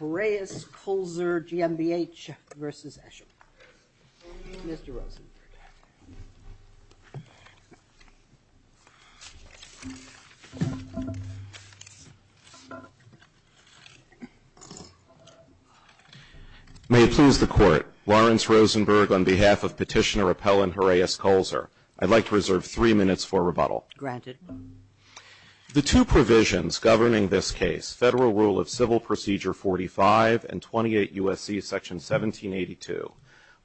Horace Kulzer Gmbh v. Esschem May it please the Court, Lawrence Rosenberg, on behalf of Petitioner Appellant Horace Kulzer, I'd like to reserve three minutes for rebuttal. Granted. The two provisions governing this case, Federal Rule of Civil Procedure 45 and 28 U.S.C. Section 1782,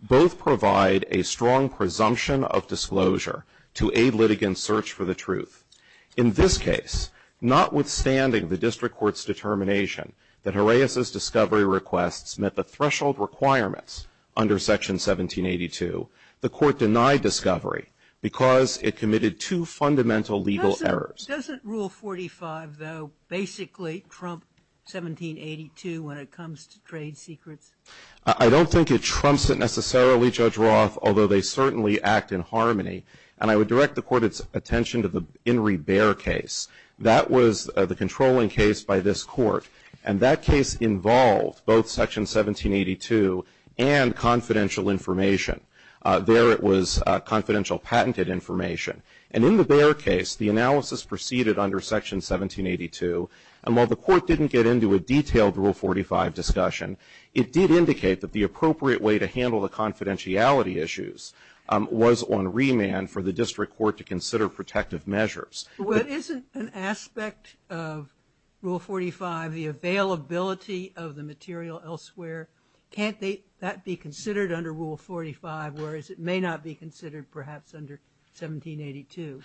both provide a strong presumption of disclosure to aid litigants' search for the truth. In this case, notwithstanding the district court's determination that Horace's discovery requests met the threshold requirements under Section 1782, the court denied discovery because it committed two fundamental legal errors. Doesn't Rule 45, though, basically trump 1782 when it comes to trade secrets? I don't think it trumps it necessarily, Judge Roth, although they certainly act in harmony. And I would direct the Court's attention to the In re Baer case. That was the controlling case by this Court. And that case involved both Section 1782 and confidential information. There it was confidential patented information. And in the Baer case, the analysis proceeded under Section 1782. And while the Court didn't get into a detailed Rule 45 discussion, it did indicate that the appropriate way to handle the confidentiality issues was on remand for the district court to consider protective measures. But isn't an aspect of Rule 45 the availability of the material elsewhere? Can't that be considered under Rule 45, whereas it may not be considered perhaps under 1782?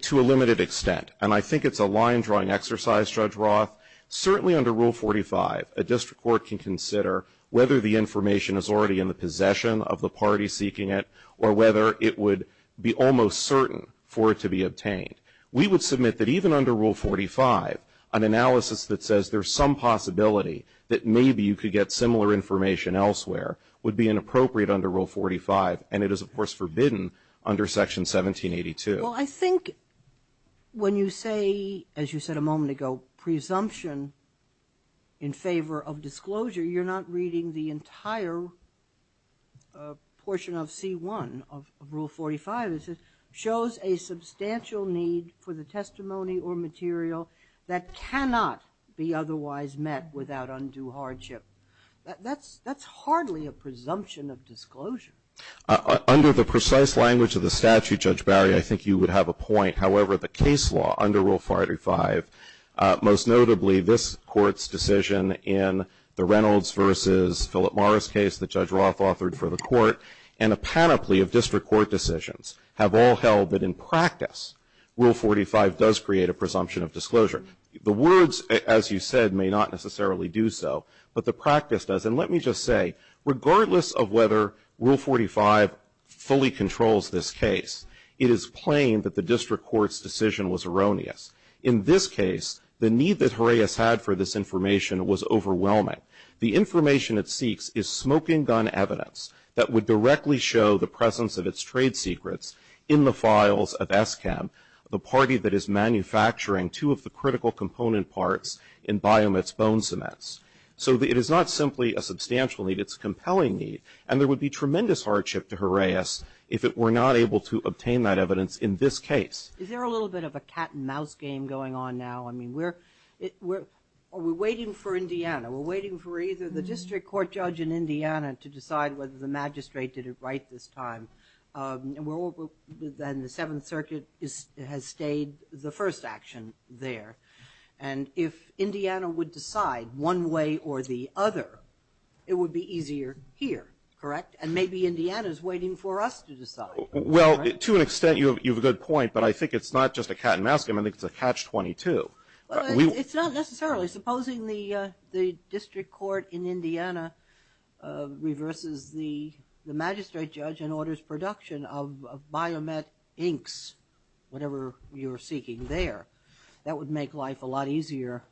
To a limited extent. And I think it's a line-drawing exercise, Judge Roth. Certainly under Rule 45, a district court can consider whether the information is already in the possession of the party seeking it, or whether it would be almost certain for it to be obtained. We would submit that even under Rule 45, an analysis that says there's some possibility that maybe you could get similar information elsewhere would be inappropriate under Rule 45. And it is, of course, forbidden under Section 1782. Well, I think when you say, as you said a moment ago, presumption in favor of disclosure, you're not reading the entire portion of C1 of Rule 45. It says, shows a substantial need for the testimony or material that cannot be otherwise met without undue hardship. That's hardly a presumption of disclosure. Under the precise language of the statute, Judge Barry, I think you would have a point. However, the case law under Rule 45, most notably this Court's decision in the Reynolds versus Philip Morris case that Judge Roth authored for the Court, and a panoply of district court decisions have all held that in practice, Rule 45 does create a presumption of disclosure. The words, as you said, may not necessarily do so, but the practice does. And let me just say, regardless of whether Rule 45 fully controls this case, it is plain that the district court's decision was erroneous. In this case, the need that Horaeus had for this information was overwhelming. The information it seeks is smoking gun evidence that would directly show the presence of its trade secrets in the files of ESCAM, the party that is manufacturing two of the critical component parts in Biomit's bone cements. So it is not simply a substantial need. It's a compelling need. And there would be tremendous hardship to Horaeus if it were not able to obtain that evidence in this case. Is there a little bit of a cat-and-mouse game going on now? I mean, we're waiting for Indiana. We're waiting for either the district court judge in Indiana to decide whether the magistrate did it right this time. And the Seventh Circuit has stayed the first action there. And if Indiana would decide one way or the other, it would be easier here, correct? And maybe Indiana is waiting for us to decide. Well, to an extent, you have a good point. But I think it's not just a cat-and-mouse game. I think it's a catch-22. Well, it's not necessarily. Supposing the district court in Indiana reverses the magistrate judge and orders production of Biomit inks, whatever you're seeking there, that would make life a lot easier,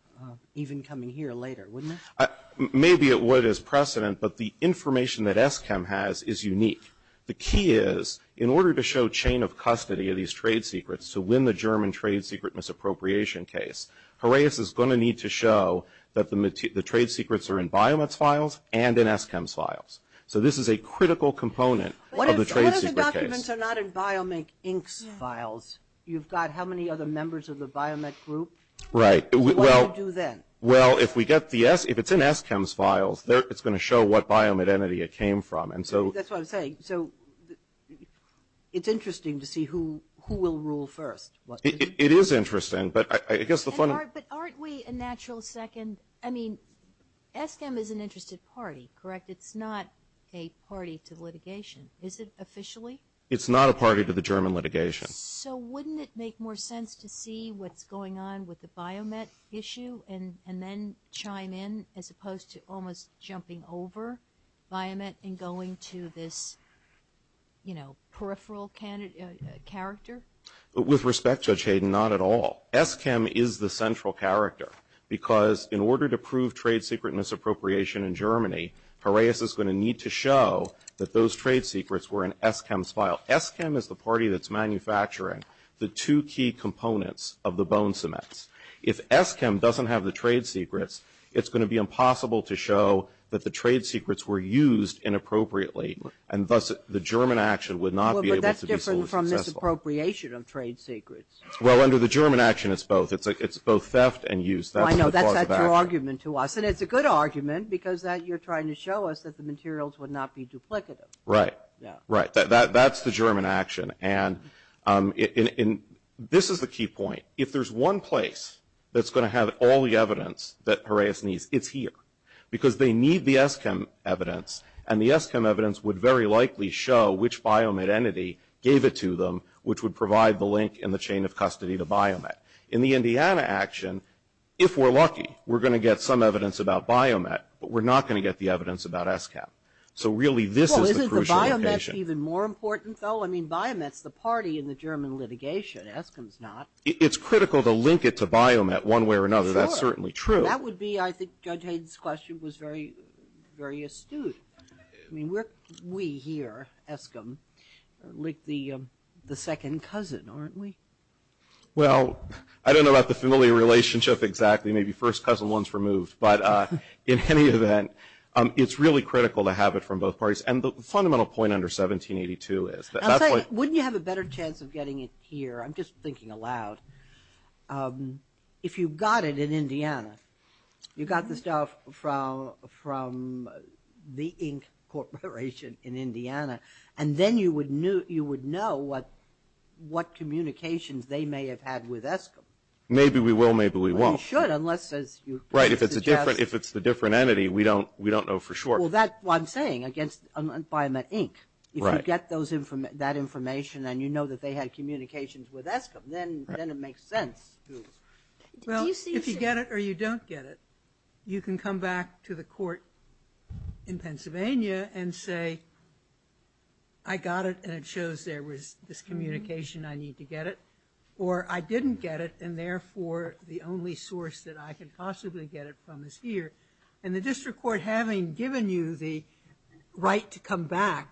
even coming here later, wouldn't it? Maybe it would as precedent. But the information that ESKEM has is unique. The key is, in order to show chain of custody of these trade secrets to win the German trade secret misappropriation case, Horaeus is going to need to show that the trade secrets are in Biomit's files and in ESKEM's files. So this is a critical component of the trade secret case. What if the documents are not in Biomit's inks files? You've got how many other members of the Biomit group? Right. What do you do then? Well, if it's in ESKEM's files, it's going to show what Biomit entity it came from. That's what I'm saying. So it's interesting to see who will rule first. It is interesting. But I guess the fun— But aren't we a natural second—I mean, ESKEM is an interested party, correct? It's not a party to litigation. Is it officially? It's not a party to the German litigation. So wouldn't it make more sense to see what's going on with the Biomit issue and then chime in as opposed to almost jumping over Biomit and going to this, you know, peripheral character? With respect, Judge Hayden, not at all. ESKEM is the central character because in order to prove trade secret misappropriation in Germany, Horaeus is going to need to show that those trade secrets were in ESKEM's file. Now, ESKEM is the party that's manufacturing the two key components of the bone cements. If ESKEM doesn't have the trade secrets, it's going to be impossible to show that the trade secrets were used inappropriately, and thus the German action would not be able to be fully successful. Well, but that's different from misappropriation of trade secrets. Well, under the German action, it's both. It's both theft and use. That's the cause of action. I know. That's your argument to us. And it's a good argument because that you're trying to show us that the materials would not be duplicative. Right. Right. That's the German action. And this is the key point. If there's one place that's going to have all the evidence that Horaeus needs, it's here because they need the ESKEM evidence, and the ESKEM evidence would very likely show which Biomet entity gave it to them, which would provide the link in the chain of custody to Biomet. In the Indiana action, if we're lucky, we're going to get some evidence about Biomet, but we're not going to get the evidence about ESKEM. So really, this is the crucial occasion. Even more important, though? I mean, Biomet's the party in the German litigation. ESKEM's not. It's critical to link it to Biomet one way or another. That's certainly true. That would be, I think, Judge Hayden's question was very astute. I mean, we here, ESKEM, link the second cousin, aren't we? Well, I don't know about the familiar relationship exactly. Maybe first cousin, one's removed. But in any event, it's really critical to have it from both parties. And the fundamental point under 1782 is that that's what you have a better chance of getting it here. I'm just thinking aloud. If you got it in Indiana, you got the stuff from the Inc. Corporation in Indiana, and then you would know what communications they may have had with ESKEM. Maybe we will. Maybe we won't. Well, you should, unless, as you suggest. Right. If it's a different entity, we don't know for sure. Well, that's what I'm saying against Biomet Inc. Right. If you get that information, and you know that they had communications with ESKEM, then it makes sense. Well, if you get it or you don't get it, you can come back to the court in Pennsylvania and say, I got it, and it shows there was this communication. I need to get it. Or I didn't get it, and therefore, the only source that I could possibly get it from is here. And the district court having given you the right to come back,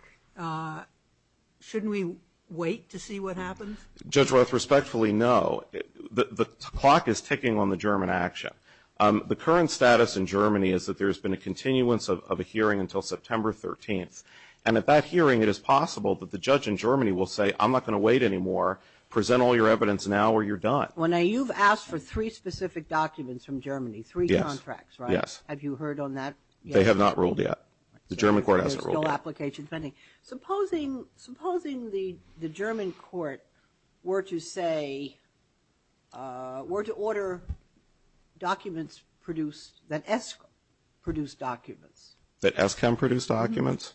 shouldn't we wait to see what happens? Judge Roth, respectfully, no. The clock is ticking on the German action. The current status in Germany is that there's been a continuance of a hearing until September 13th. And at that hearing, it is possible that the judge in Germany will say, I'm not going to wait anymore. Present all your evidence now, or you're done. Well, now, you've asked for three specific documents from Germany, three contracts, right? Yes. Have you heard on that yet? They have not ruled yet. The German court hasn't ruled yet. There's still applications pending. Supposing the German court were to say, were to order documents produced, that ESKEM produced documents? That ESKEM produced documents?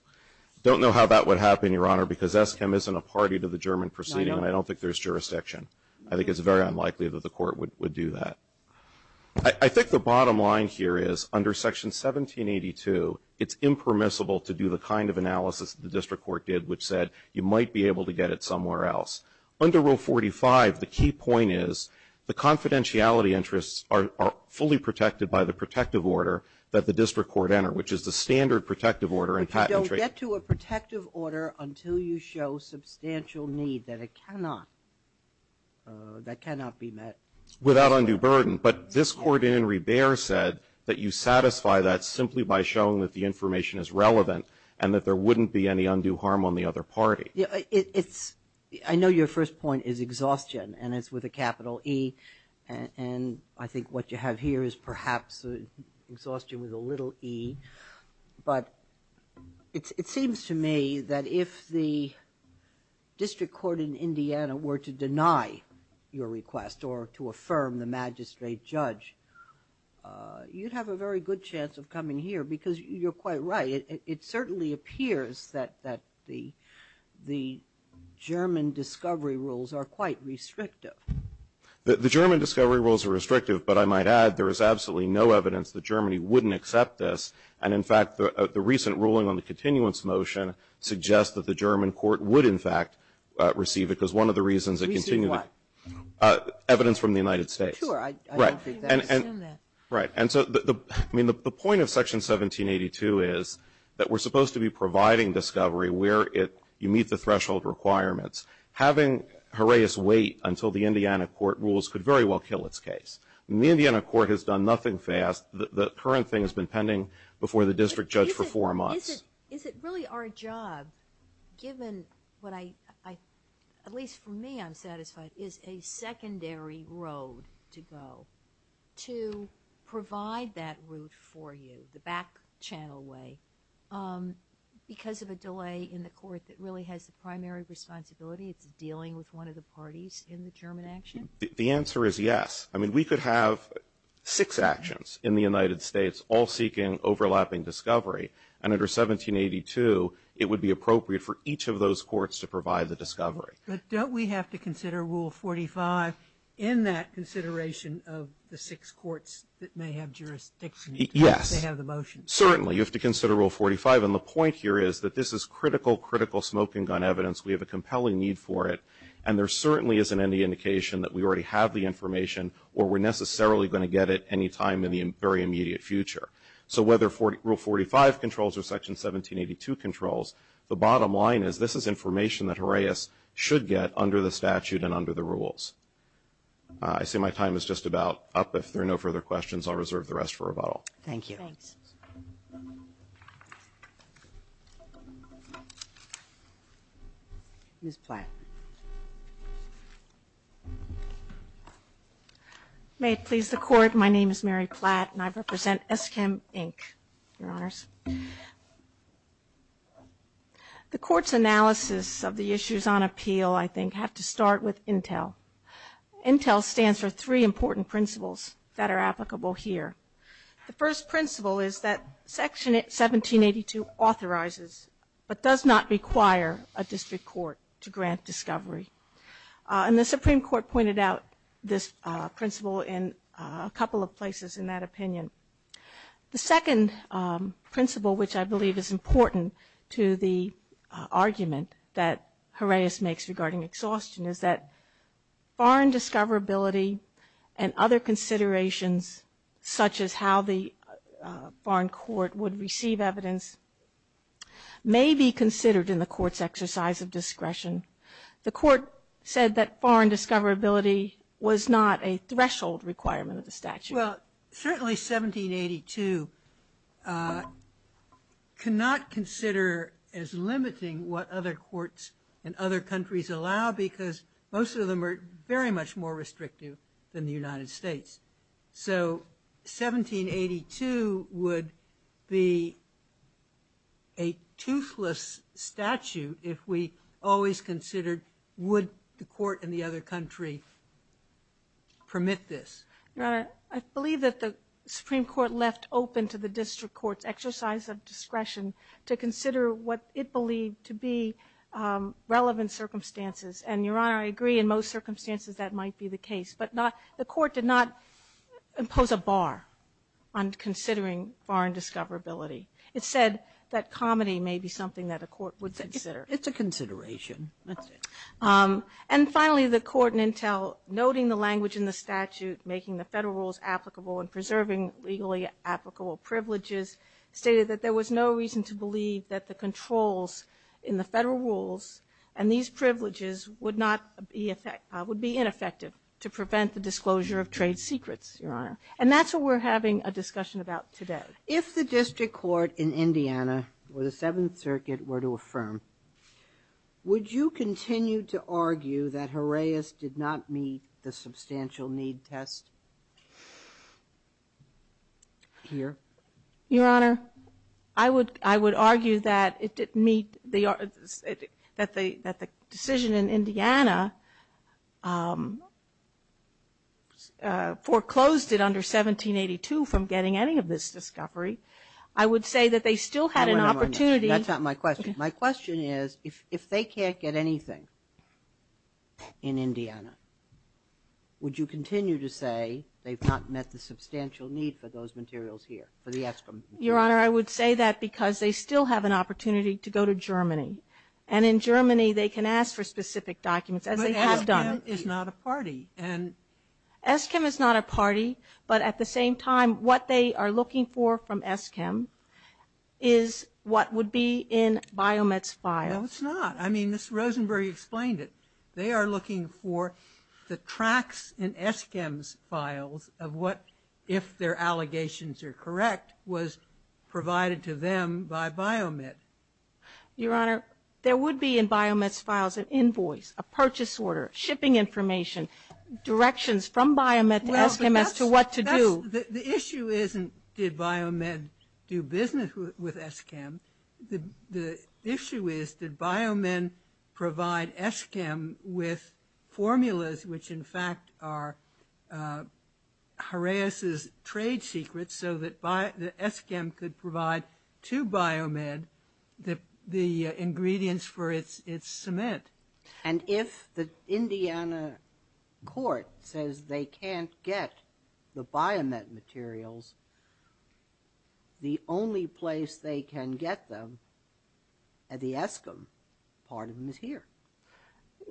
Don't know how that would happen, Your Honor, because ESKEM isn't a party to the German proceeding, and I don't think there's jurisdiction. I think it's very unlikely that the court would do that. I think the bottom line here is, under Section 1782, it's impermissible to do the kind of analysis that the district court did, which said, you might be able to get it somewhere else. Under Rule 45, the key point is, the confidentiality interests are fully protected by the protective order that the district court entered, which is the standard protective order. But you don't get to a protective order until you show substantial need, that it cannot, that cannot be met. Without undue burden. But this court in Rebair said that you satisfy that simply by showing that the information is relevant, and that there wouldn't be any undue harm on the other party. Yeah, it's, I know your first point is exhaustion, and it's with a capital E, and I think what you have here is perhaps exhaustion with a little e, but it seems to me that if the district court in Indiana were to deny your request, or to affirm the magistrate judge, you'd have a very good chance of coming here, because you're quite right. It certainly appears that the German discovery rules are quite restrictive. The German discovery rules are restrictive, but I might add, there is absolutely no evidence that Germany wouldn't accept this. And, in fact, the recent ruling on the continuance motion suggests that the German court would, in fact, receive it, because one of the reasons it continued. Receive what? Evidence from the United States. Sure, I don't think they would assume that. Right. And so, I mean, the point of Section 1782 is that we're supposed to be providing discovery where it, you meet the threshold requirements. Having Horaeus wait until the Indiana court rules could very well kill its case. The Indiana court has done nothing fast. The current thing has been pending before the district judge for four months. Is it really our job, given what I, at least for me I'm satisfied, is a secondary road to go, to provide that route for you, the back channel way, because of a delay in the court that really has the primary responsibility, it's dealing with one of the parties in the German action? The answer is yes. I mean, we could have six actions in the United States, all seeking overlapping discovery. And under 1782, it would be appropriate for each of those courts to provide the discovery. But don't we have to consider Rule 45 in that consideration of the six courts that may have jurisdiction? Yes. They have the motion. Certainly. You have to consider Rule 45. And the point here is that this is critical, critical smoking gun evidence. We have a compelling need for it. And there certainly isn't any indication that we already have the information or we're necessarily going to get it any time in the very immediate future. So whether Rule 45 controls or Section 1782 controls, the bottom line is, this is information that Harais should get under the statute and under the rules. I see my time is just about up. If there are no further questions, I'll reserve the rest for rebuttal. Thank you. Thanks. Ms. Platt. May it please the Court, my name is Mary Platt, and I represent ESKIM, Inc., Your Honors. The Court's analysis of the issues on appeal, I think, have to start with INTEL. INTEL stands for three important principles that are applicable here. The first principle is that Section 1782 authorizes, but does not require, a district court to grant discovery. And the Supreme Court pointed out this principle in a couple of places in that opinion. The second principle, which I believe is important to the argument that Harais makes regarding exhaustion, is that foreign discoverability and other considerations, such as how the foreign court would receive evidence, may be considered in the Court's exercise of discretion. The Court said that foreign discoverability was not a threshold requirement of the statute. Well, certainly 1782 cannot consider as limiting what other courts and other countries allow because most of them are very much more restrictive than the United States. So 1782 would be a toothless statute if we always considered, would the Court and the other country permit this? Your Honor, I believe that the Supreme Court left open to the district court's exercise of discretion to consider what it believed to be relevant circumstances. And, Your Honor, I agree in most circumstances that might be the case. But not the Court did not impose a bar on considering foreign discoverability. It said that comedy may be something that a court would consider. It's a consideration. And finally, the Court in Intel, noting the language in the statute, making the Federal rules applicable and preserving legally applicable privileges, stated that there was no reason to believe that the controls in the Federal rules and these privileges would not be effective, would be ineffective to prevent the disclosure of trade secrets. Your Honor. And that's what we're having a discussion about today. If the district court in Indiana or the Seventh Circuit were to affirm, would you continue to argue that Horaeus did not meet the substantial need test here? Your Honor, I would argue that it didn't meet the, that the decision in Indiana foreclosed it under 1782 from getting any of this discovery. I would say that they still had an opportunity. That's not my question. My question is, if they can't get anything in Indiana, would you continue to say they've not met the substantial need for those materials here? For the ESKIM. Your Honor, I would say that because they still have an opportunity to go to Germany. And in Germany, they can ask for specific documents, as they have done. But ESKIM is not a party. And. ESKIM is not a party. But at the same time, what they are looking for from ESKIM is what would be in Biomet's files. No, it's not. I mean, Ms. Rosenberg explained it. They are looking for the tracks in ESKIM's files of what, if their allegations are correct, was provided to them by Biomet. Your Honor, there would be in Biomet's files an invoice, a purchase order, shipping information, directions from Biomet to ESKIM as to what to do. The issue isn't, did Biomet do business with ESKIM? The issue is, did Biomet provide ESKIM with formulas which, in fact, are Horaeus' trade secrets so that ESKIM could provide to Biomet the ingredients for its cement? And if the Indiana court says they can't get the Biomet materials, the only place they can get them at the ESKIM part of them is here.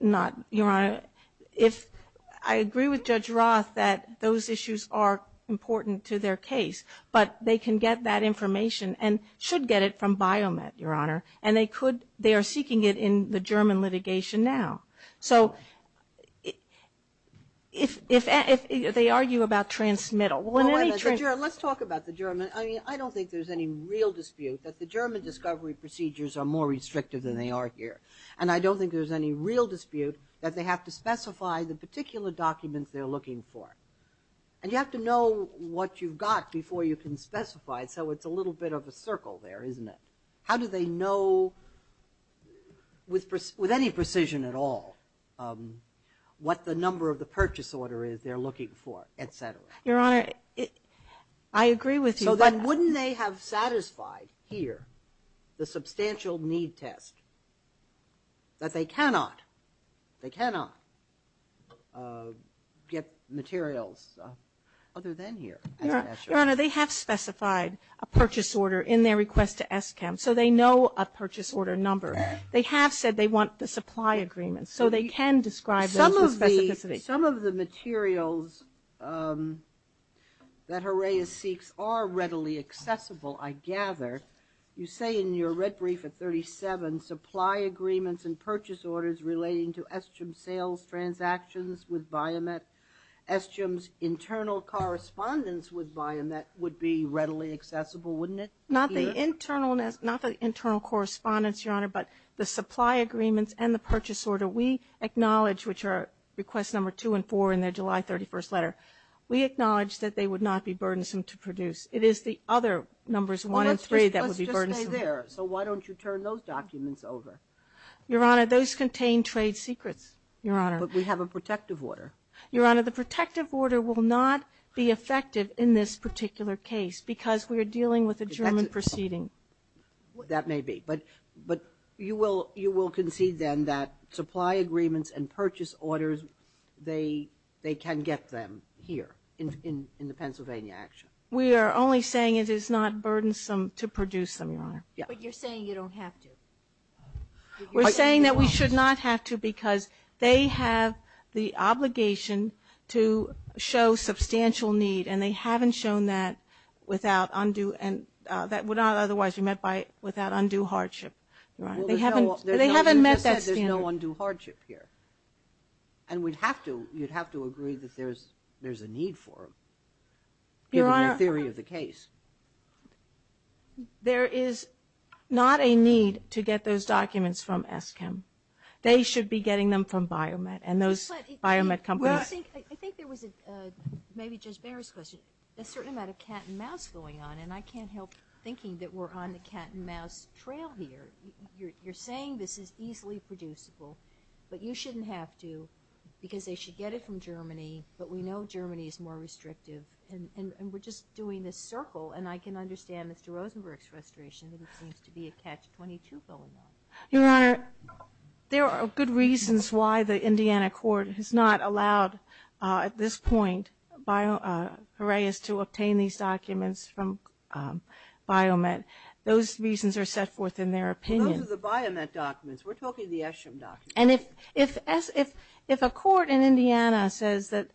Not, Your Honor. If I agree with Judge Roth that those issues are important to their case, but they can get that information and should get it from Biomet, Your Honor. And they could, they are seeking it in the German litigation now. So if they argue about transmittal. Let's talk about the German. I mean, I don't think there's any real dispute that the German discovery procedures are more restrictive than they are here. And I don't think there's any real dispute that they have to specify the particular documents they're looking for. And you have to know what you've got before you can specify it. So it's a little bit of a circle there, isn't it? How do they know, with any precision at all, what the number of the purchase order is they're looking for, et cetera? Your Honor, I agree with you. So then wouldn't they have satisfied here the substantial need test that they cannot, they cannot get materials other than here? Your Honor, they have specified a purchase order in their request to ESKIM. So they know a purchase order number. They have said they want the supply agreement. So they can describe those with specificity. Some of the materials that Herreia seeks are readily accessible, I gather. You say in your red brief at 37, supply agreements and purchase orders relating to ESKIM sales transactions with Biomet, ESKIM's internal correspondence with Biomet would be readily accessible, wouldn't it? Not the internal correspondence, Your Honor, but the supply agreements and the purchase order. We acknowledge, which are request number two and four in their July 31st letter, we acknowledge that they would not be burdensome to produce. It is the other numbers one and three that would be burdensome. Let's just stay there. So why don't you turn those documents over? Your Honor, those contain trade secrets, Your Honor. But we have a protective order. Your Honor, the protective order will not be effective in this particular case because we are dealing with a German proceeding. That may be. But you will concede then that supply agreements and purchase orders, they can get them here in the Pennsylvania action. We are only saying it is not burdensome to produce them, Your Honor. But you're saying you don't have to. We're saying that we should not have to because they have the obligation to show substantial need and they haven't shown that without undue and that would not otherwise be met by without undue hardship. Your Honor, they haven't met that standard. You just said there's no undue hardship here. And we'd have to you'd have to agree that there's there's a need for them. Your Honor. Given the theory of the case. There is not a need to get those documents from ESKIM. They should be getting them from Biomet and those Biomet companies. I think there was a maybe Judge Behr's question. A certain amount of cat and mouse going on and I can't help thinking that we're on the cat and mouse trail here. You're saying this is easily producible, but you shouldn't have to because they should get it from Germany. But we know Germany is more restrictive and we're just doing this circle and I can understand Mr. Rosenberg's frustration that it seems to be a catch 22 going on. Your Honor. There are good reasons why the Indiana court has not allowed at this point by Horace to obtain these documents from Biomet. Those reasons are set forth in their opinion. Those are the Biomet documents. We're talking the ESKIM documents. And if if as if if a court in Indiana says that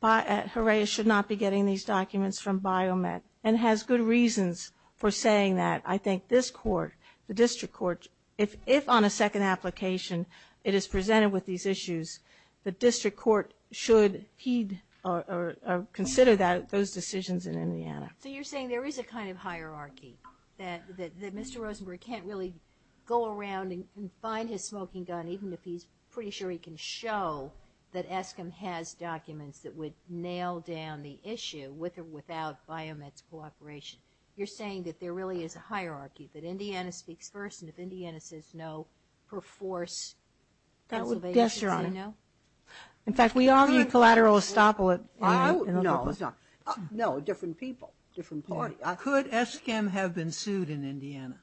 by Horace should not be getting these documents from Biomet and has good reasons for saying that I think this court, the district court, if if on a second application it is presented with these issues, the district court should heed or consider that those decisions in Indiana. So you're saying there is a kind of hierarchy that that Mr. Rosenberg can't really go around and find his smoking gun even if he's pretty sure he can show that ESKIM has documents that would nail down the issue with or without Biomet's cooperation. You're saying that there really is a hierarchy that Indiana speaks first. And if Indiana says no, per force. That would guess you're on. No. In fact, we all need collateral estoppel. It was not no different people. Different party. Could ESKIM have been sued in Indiana?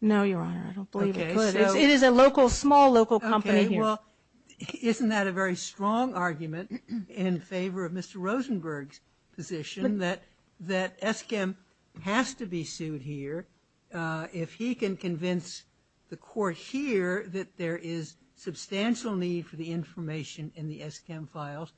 No, Your Honor. I don't believe it is a local small local company. Well, isn't that a very strong argument in favor of Mr. Rosenberg's position that that ESKIM has to be sued here if he can convince the court here that there is substantial need for the information in the ESKIM files?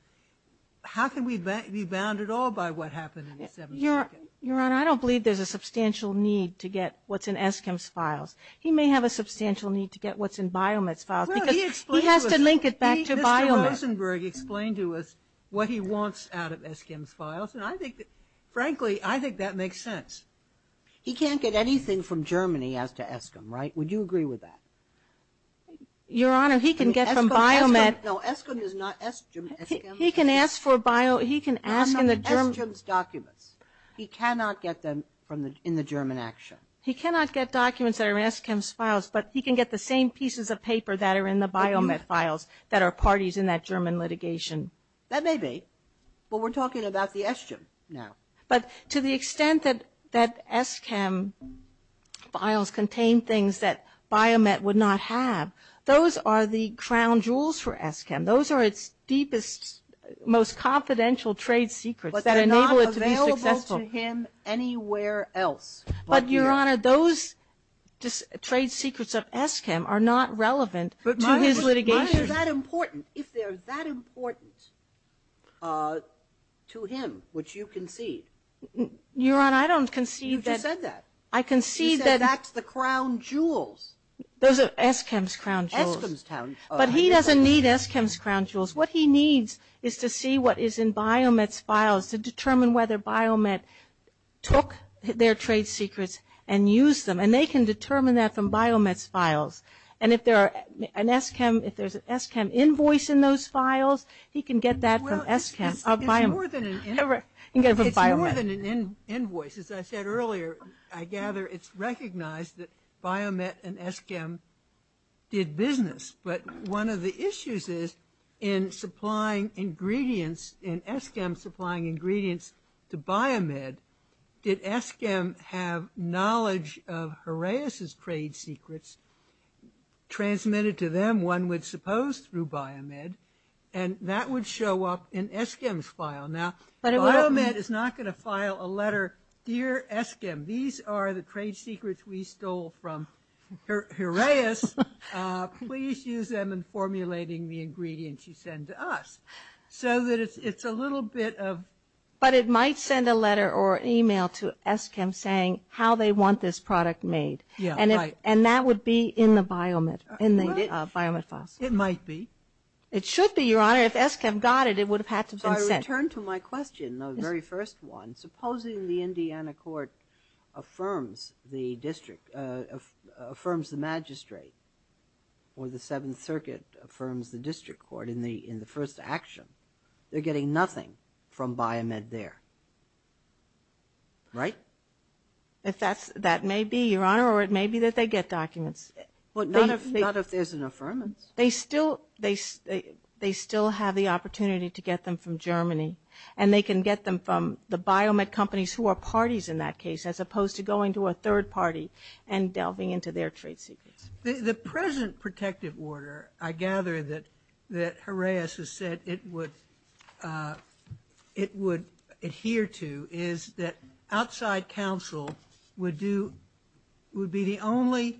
How can we be bound at all by what happened in the 72nd? Your Honor, I don't believe there's a substantial need to get what's in ESKIM's files. He may have a substantial need to get what's in Biomet's files because he has to link it back to Biomet. Mr. Rosenberg explained to us what he wants out of ESKIM's files. And I think, frankly, I think that makes sense. He can't get anything from Germany as to ESKIM, right? Would you agree with that? Your Honor, he can get from Biomet. No, ESKIM is not ESKIM. He can ask for Biomet. He can ask in the German documents. He cannot get them from the in the German action. He cannot get documents that are in ESKIM's files, but he can get the same pieces of paper that are in the Biomet files that are parties in that German litigation. That may be. Well, we're talking about the ESKIM now. But to the extent that that ESKIM files contain things that Biomet would not have, those are the crown jewels for ESKIM. Those are its deepest, most confidential trade secrets that enable it to be successful. But they're not available to him anywhere else. But, Your Honor, those trade secrets of ESKIM are not relevant to his litigation. But why are they that important? If they're that important to him, which you concede. Your Honor, I don't concede that. You just said that. I concede that. You said that's the crown jewels. Those are ESKIM's crown jewels. ESKIM's crown jewels. But he doesn't need ESKIM's crown jewels. What he needs is to see what is in Biomet's files to determine whether Biomet took their trade secrets and used them. And they can determine that from Biomet's files. And if there are an ESKIM, if there's an ESKIM invoice in those files, he can get that from ESKIM. Well, it's more than an invoice. As I said earlier, I gather it's recognized that Biomet and ESKIM did business. But one of the issues is in supplying ingredients, in ESKIM supplying ingredients to Biomet, did ESKIM have knowledge of Horaeus' trade secrets transmitted to them? One would suppose through Biomet. And that would show up in ESKIM's file. Now, Biomet is not going to file a letter, dear ESKIM, these are the trade secrets we stole from Horaeus. Please use them in formulating the ingredients you send to us. So that it's a little bit of... A letter or email to ESKIM saying how they want this product made. Yeah, right. And that would be in the Biomet, in the Biomet files. It might be. It should be, Your Honor. If ESKIM got it, it would have had to have been sent. So I return to my question, the very first one. Supposing the Indiana court affirms the district, affirms the magistrate, or the Seventh Circuit affirms the district court in the first action. They're getting nothing from Biomet there. Right? If that's, that may be, Your Honor, or it may be that they get documents. But not if there's an affirmance. They still, they still have the opportunity to get them from Germany. And they can get them from the Biomet companies who are parties in that case, as opposed to going to a third party and delving into their trade secrets. The present protective order, I gather that, that Jaraez has said it would, it would adhere to is that outside counsel would do, would be the only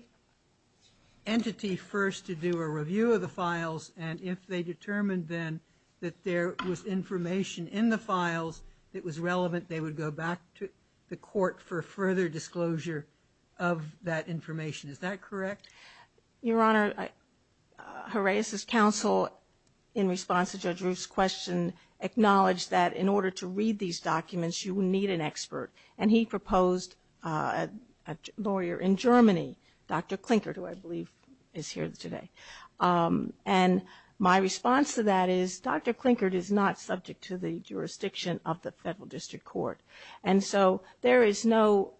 entity first to do a review of the files. And if they determined then that there was information in the files that was relevant, they would go back to the court for further disclosure of that information. Is that correct? Your Honor, Jaraez's counsel, in response to Judge Roof's question, acknowledged that in order to read these documents, you need an expert. And he proposed a lawyer in Germany, Dr. Klinkert, who I believe is here today. And my response to that is Dr. Klinkert is not subject to the jurisdiction of the federal district court. And so there is no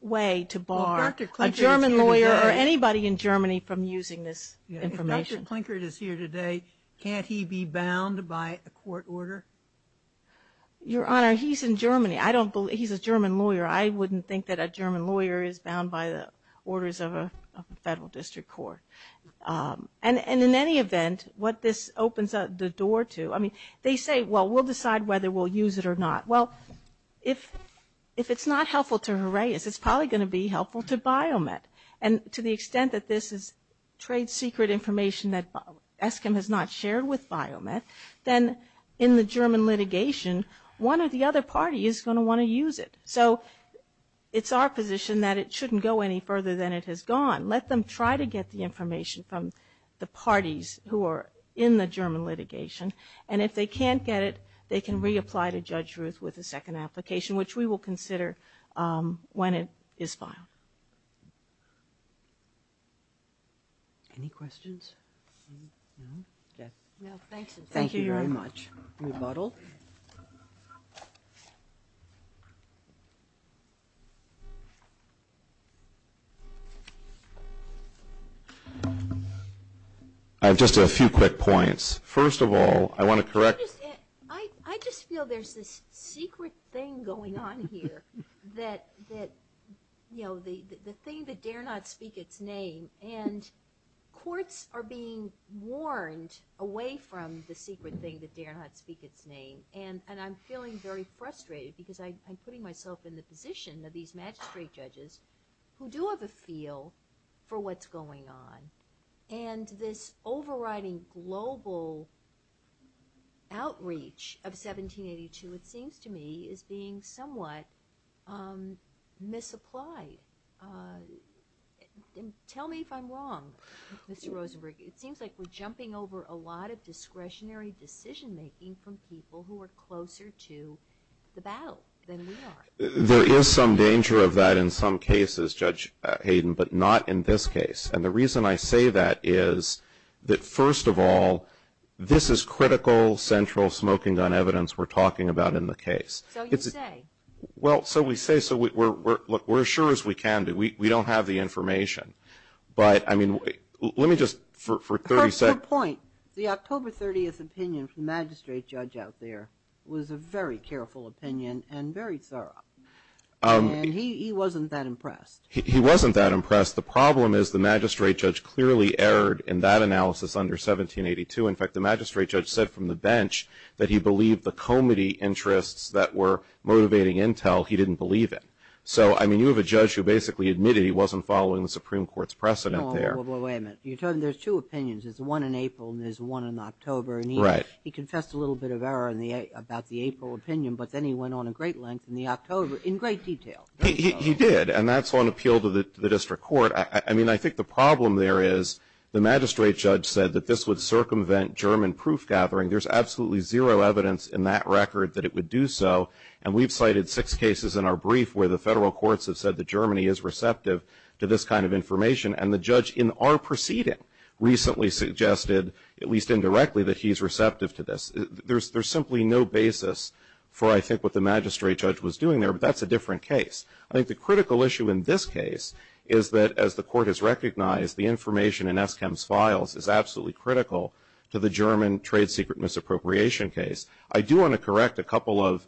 way to bar a German lawyer or anybody in Germany from using this information. If Dr. Klinkert is here today, can't he be bound by a court order? Your Honor, he's in Germany. I don't believe, he's a German lawyer. I wouldn't think that a German lawyer is bound by the orders of a federal district court. And in any event, what this opens the door to, I mean, they say, well, we'll decide whether we'll use it or not. Well, if it's not helpful to Jaraez, it's probably going to be helpful to Biomet. And to the extent that this is trade secret information that ESKIM has not shared with Biomet, then in the German litigation, one or the other party is going to want to use it. So it's our position that it shouldn't go any further than it has gone. Let them try to get the information from the parties who are in the German litigation. And if they can't get it, they can reapply to Judge Ruth with a second application, which we will consider when it is filed. Any questions? No, thanks. Thank you very much. Rebuttal. I have just a few quick points. First of all, I want to correct. I just feel there's this secret thing going on here that, you know, the thing that dare not speak its name. And courts are being warned away from the secret thing that dare not speak its name. And I'm feeling very frustrated because I'm putting myself in the position of these magistrate judges who do have a feel for what's going on. And this overriding global outreach of 1782, it seems to me, is being somewhat misapplied. Tell me if I'm wrong, Mr. Rosenberg. It seems like we're jumping over a lot of discretionary decision-making from people who are closer to the battle than we are. There is some danger of that in some cases, Judge Hayden, but not in this case. And the reason I say that is that, first of all, this is critical central smoking gun evidence we're talking about in the case. So you say. Well, so we say. So we're as sure as we can be. We don't have the information. But, I mean, let me just, for 30 seconds. For a point, the October 30th opinion from the magistrate judge out there was a very careful opinion and very thorough. And he wasn't that impressed. He wasn't that impressed. The problem is the magistrate judge clearly erred in that analysis under 1782. In fact, the magistrate judge said from the bench that he believed the comity interests that were motivating intel, he didn't believe it. So, I mean, you have a judge who basically admitted he wasn't following the Supreme Court's precedent there. Well, wait a minute. You're telling me there's two opinions. There's one in April and there's one in October. Right. He confessed a little bit of error in the, about the April opinion, but then he went on a great length in the October, in great detail. He did. And that's on appeal to the district court. I mean, I think the problem there is the magistrate judge said that this would circumvent German proof gathering. There's absolutely zero evidence in that record that it would do so. And we've cited six cases in our brief where the federal courts have said that Germany is receptive to this kind of information. And the judge in our proceeding recently suggested, at least indirectly, that he's receptive to this. There's simply no basis for, I think, what the magistrate judge was doing there. But that's a different case. I think the critical issue in this case is that, as the court has recognized, the information in Eskam's files is absolutely critical to the German trade secret misappropriation case. I do want to correct a couple of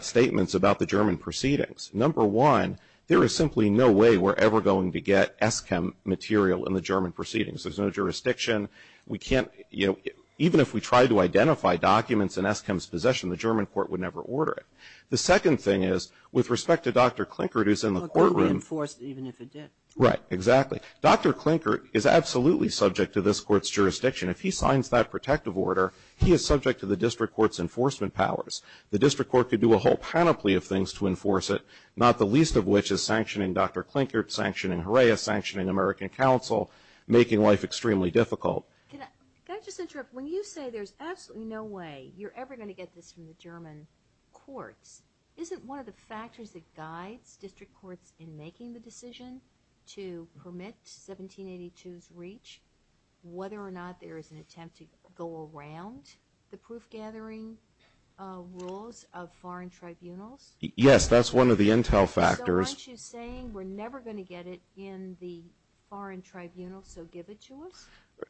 statements about the German proceedings. Number one, there is simply no way we're ever going to get Eskam material in the German proceedings. There's no jurisdiction. We can't, you know, even if we tried to identify documents in Eskam's possession, the German court would never order it. The second thing is, with respect to Dr. Klinkert, who's in the courtroom. Well, it could have been enforced even if it did. Right. Exactly. Dr. Klinkert is absolutely subject to this court's jurisdiction. If he signs that protective order, he is subject to the district court's enforcement powers. The district court could do a whole panoply of things to enforce it, not the least of which is sanctioning Dr. Klinkert, sanctioning Herrera, sanctioning American Counsel, making life extremely difficult. Can I just interrupt? When you say there's absolutely no way you're ever going to get this from the German courts, isn't one of the factors that guides district courts in making the decision to permit 1782's reach whether or not there is an attempt to go around the proof-gathering rules of foreign tribunals? Yes, that's one of the intel factors. So aren't you saying we're never going to get it in the foreign tribunals, so give it to us?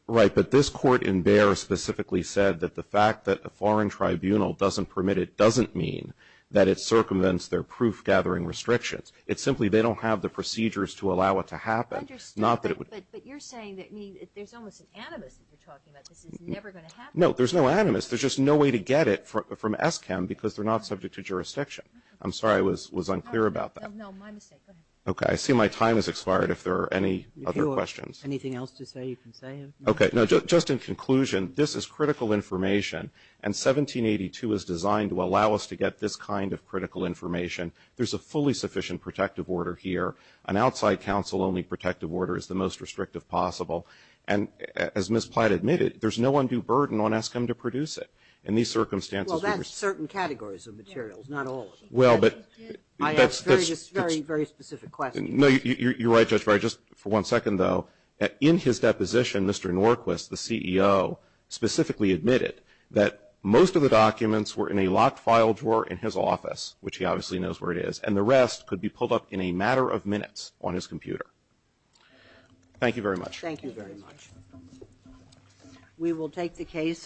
Right. But this court in Bayer specifically said that the fact that a foreign tribunal doesn't permit it doesn't mean that it circumvents their proof-gathering restrictions. It's simply they don't have the procedures to allow it to happen. I understand, but you're saying that there's almost an animus that you're talking about. This is never going to happen. No, there's no animus. There's just no way to get it from ESCAM because they're not subject to jurisdiction. I'm sorry I was unclear about that. No, my mistake. Go ahead. Okay. I see my time has expired. If there are any other questions. Anything else to say you can say? Okay. No, just in conclusion, this is critical information, and 1782 is designed to allow us to get this kind of critical information. There's a fully sufficient protective order here. An outside counsel-only protective order is the most restrictive possible. And as Ms. Platt admitted, there's no undue burden on ESCAM to produce it. In these circumstances. Well, that's certain categories of materials, not all of them. Well, but. I asked a very, very specific question. No, you're right, Judge Breyer. Just for one second, though. In his deposition, Mr. Norquist, the CEO, specifically admitted that most of the documents were in a locked file drawer in his office, which he obviously knows where it is. And the rest could be pulled up in a matter of minutes on his computer. Thank you very much. Thank you very much. We will take the case.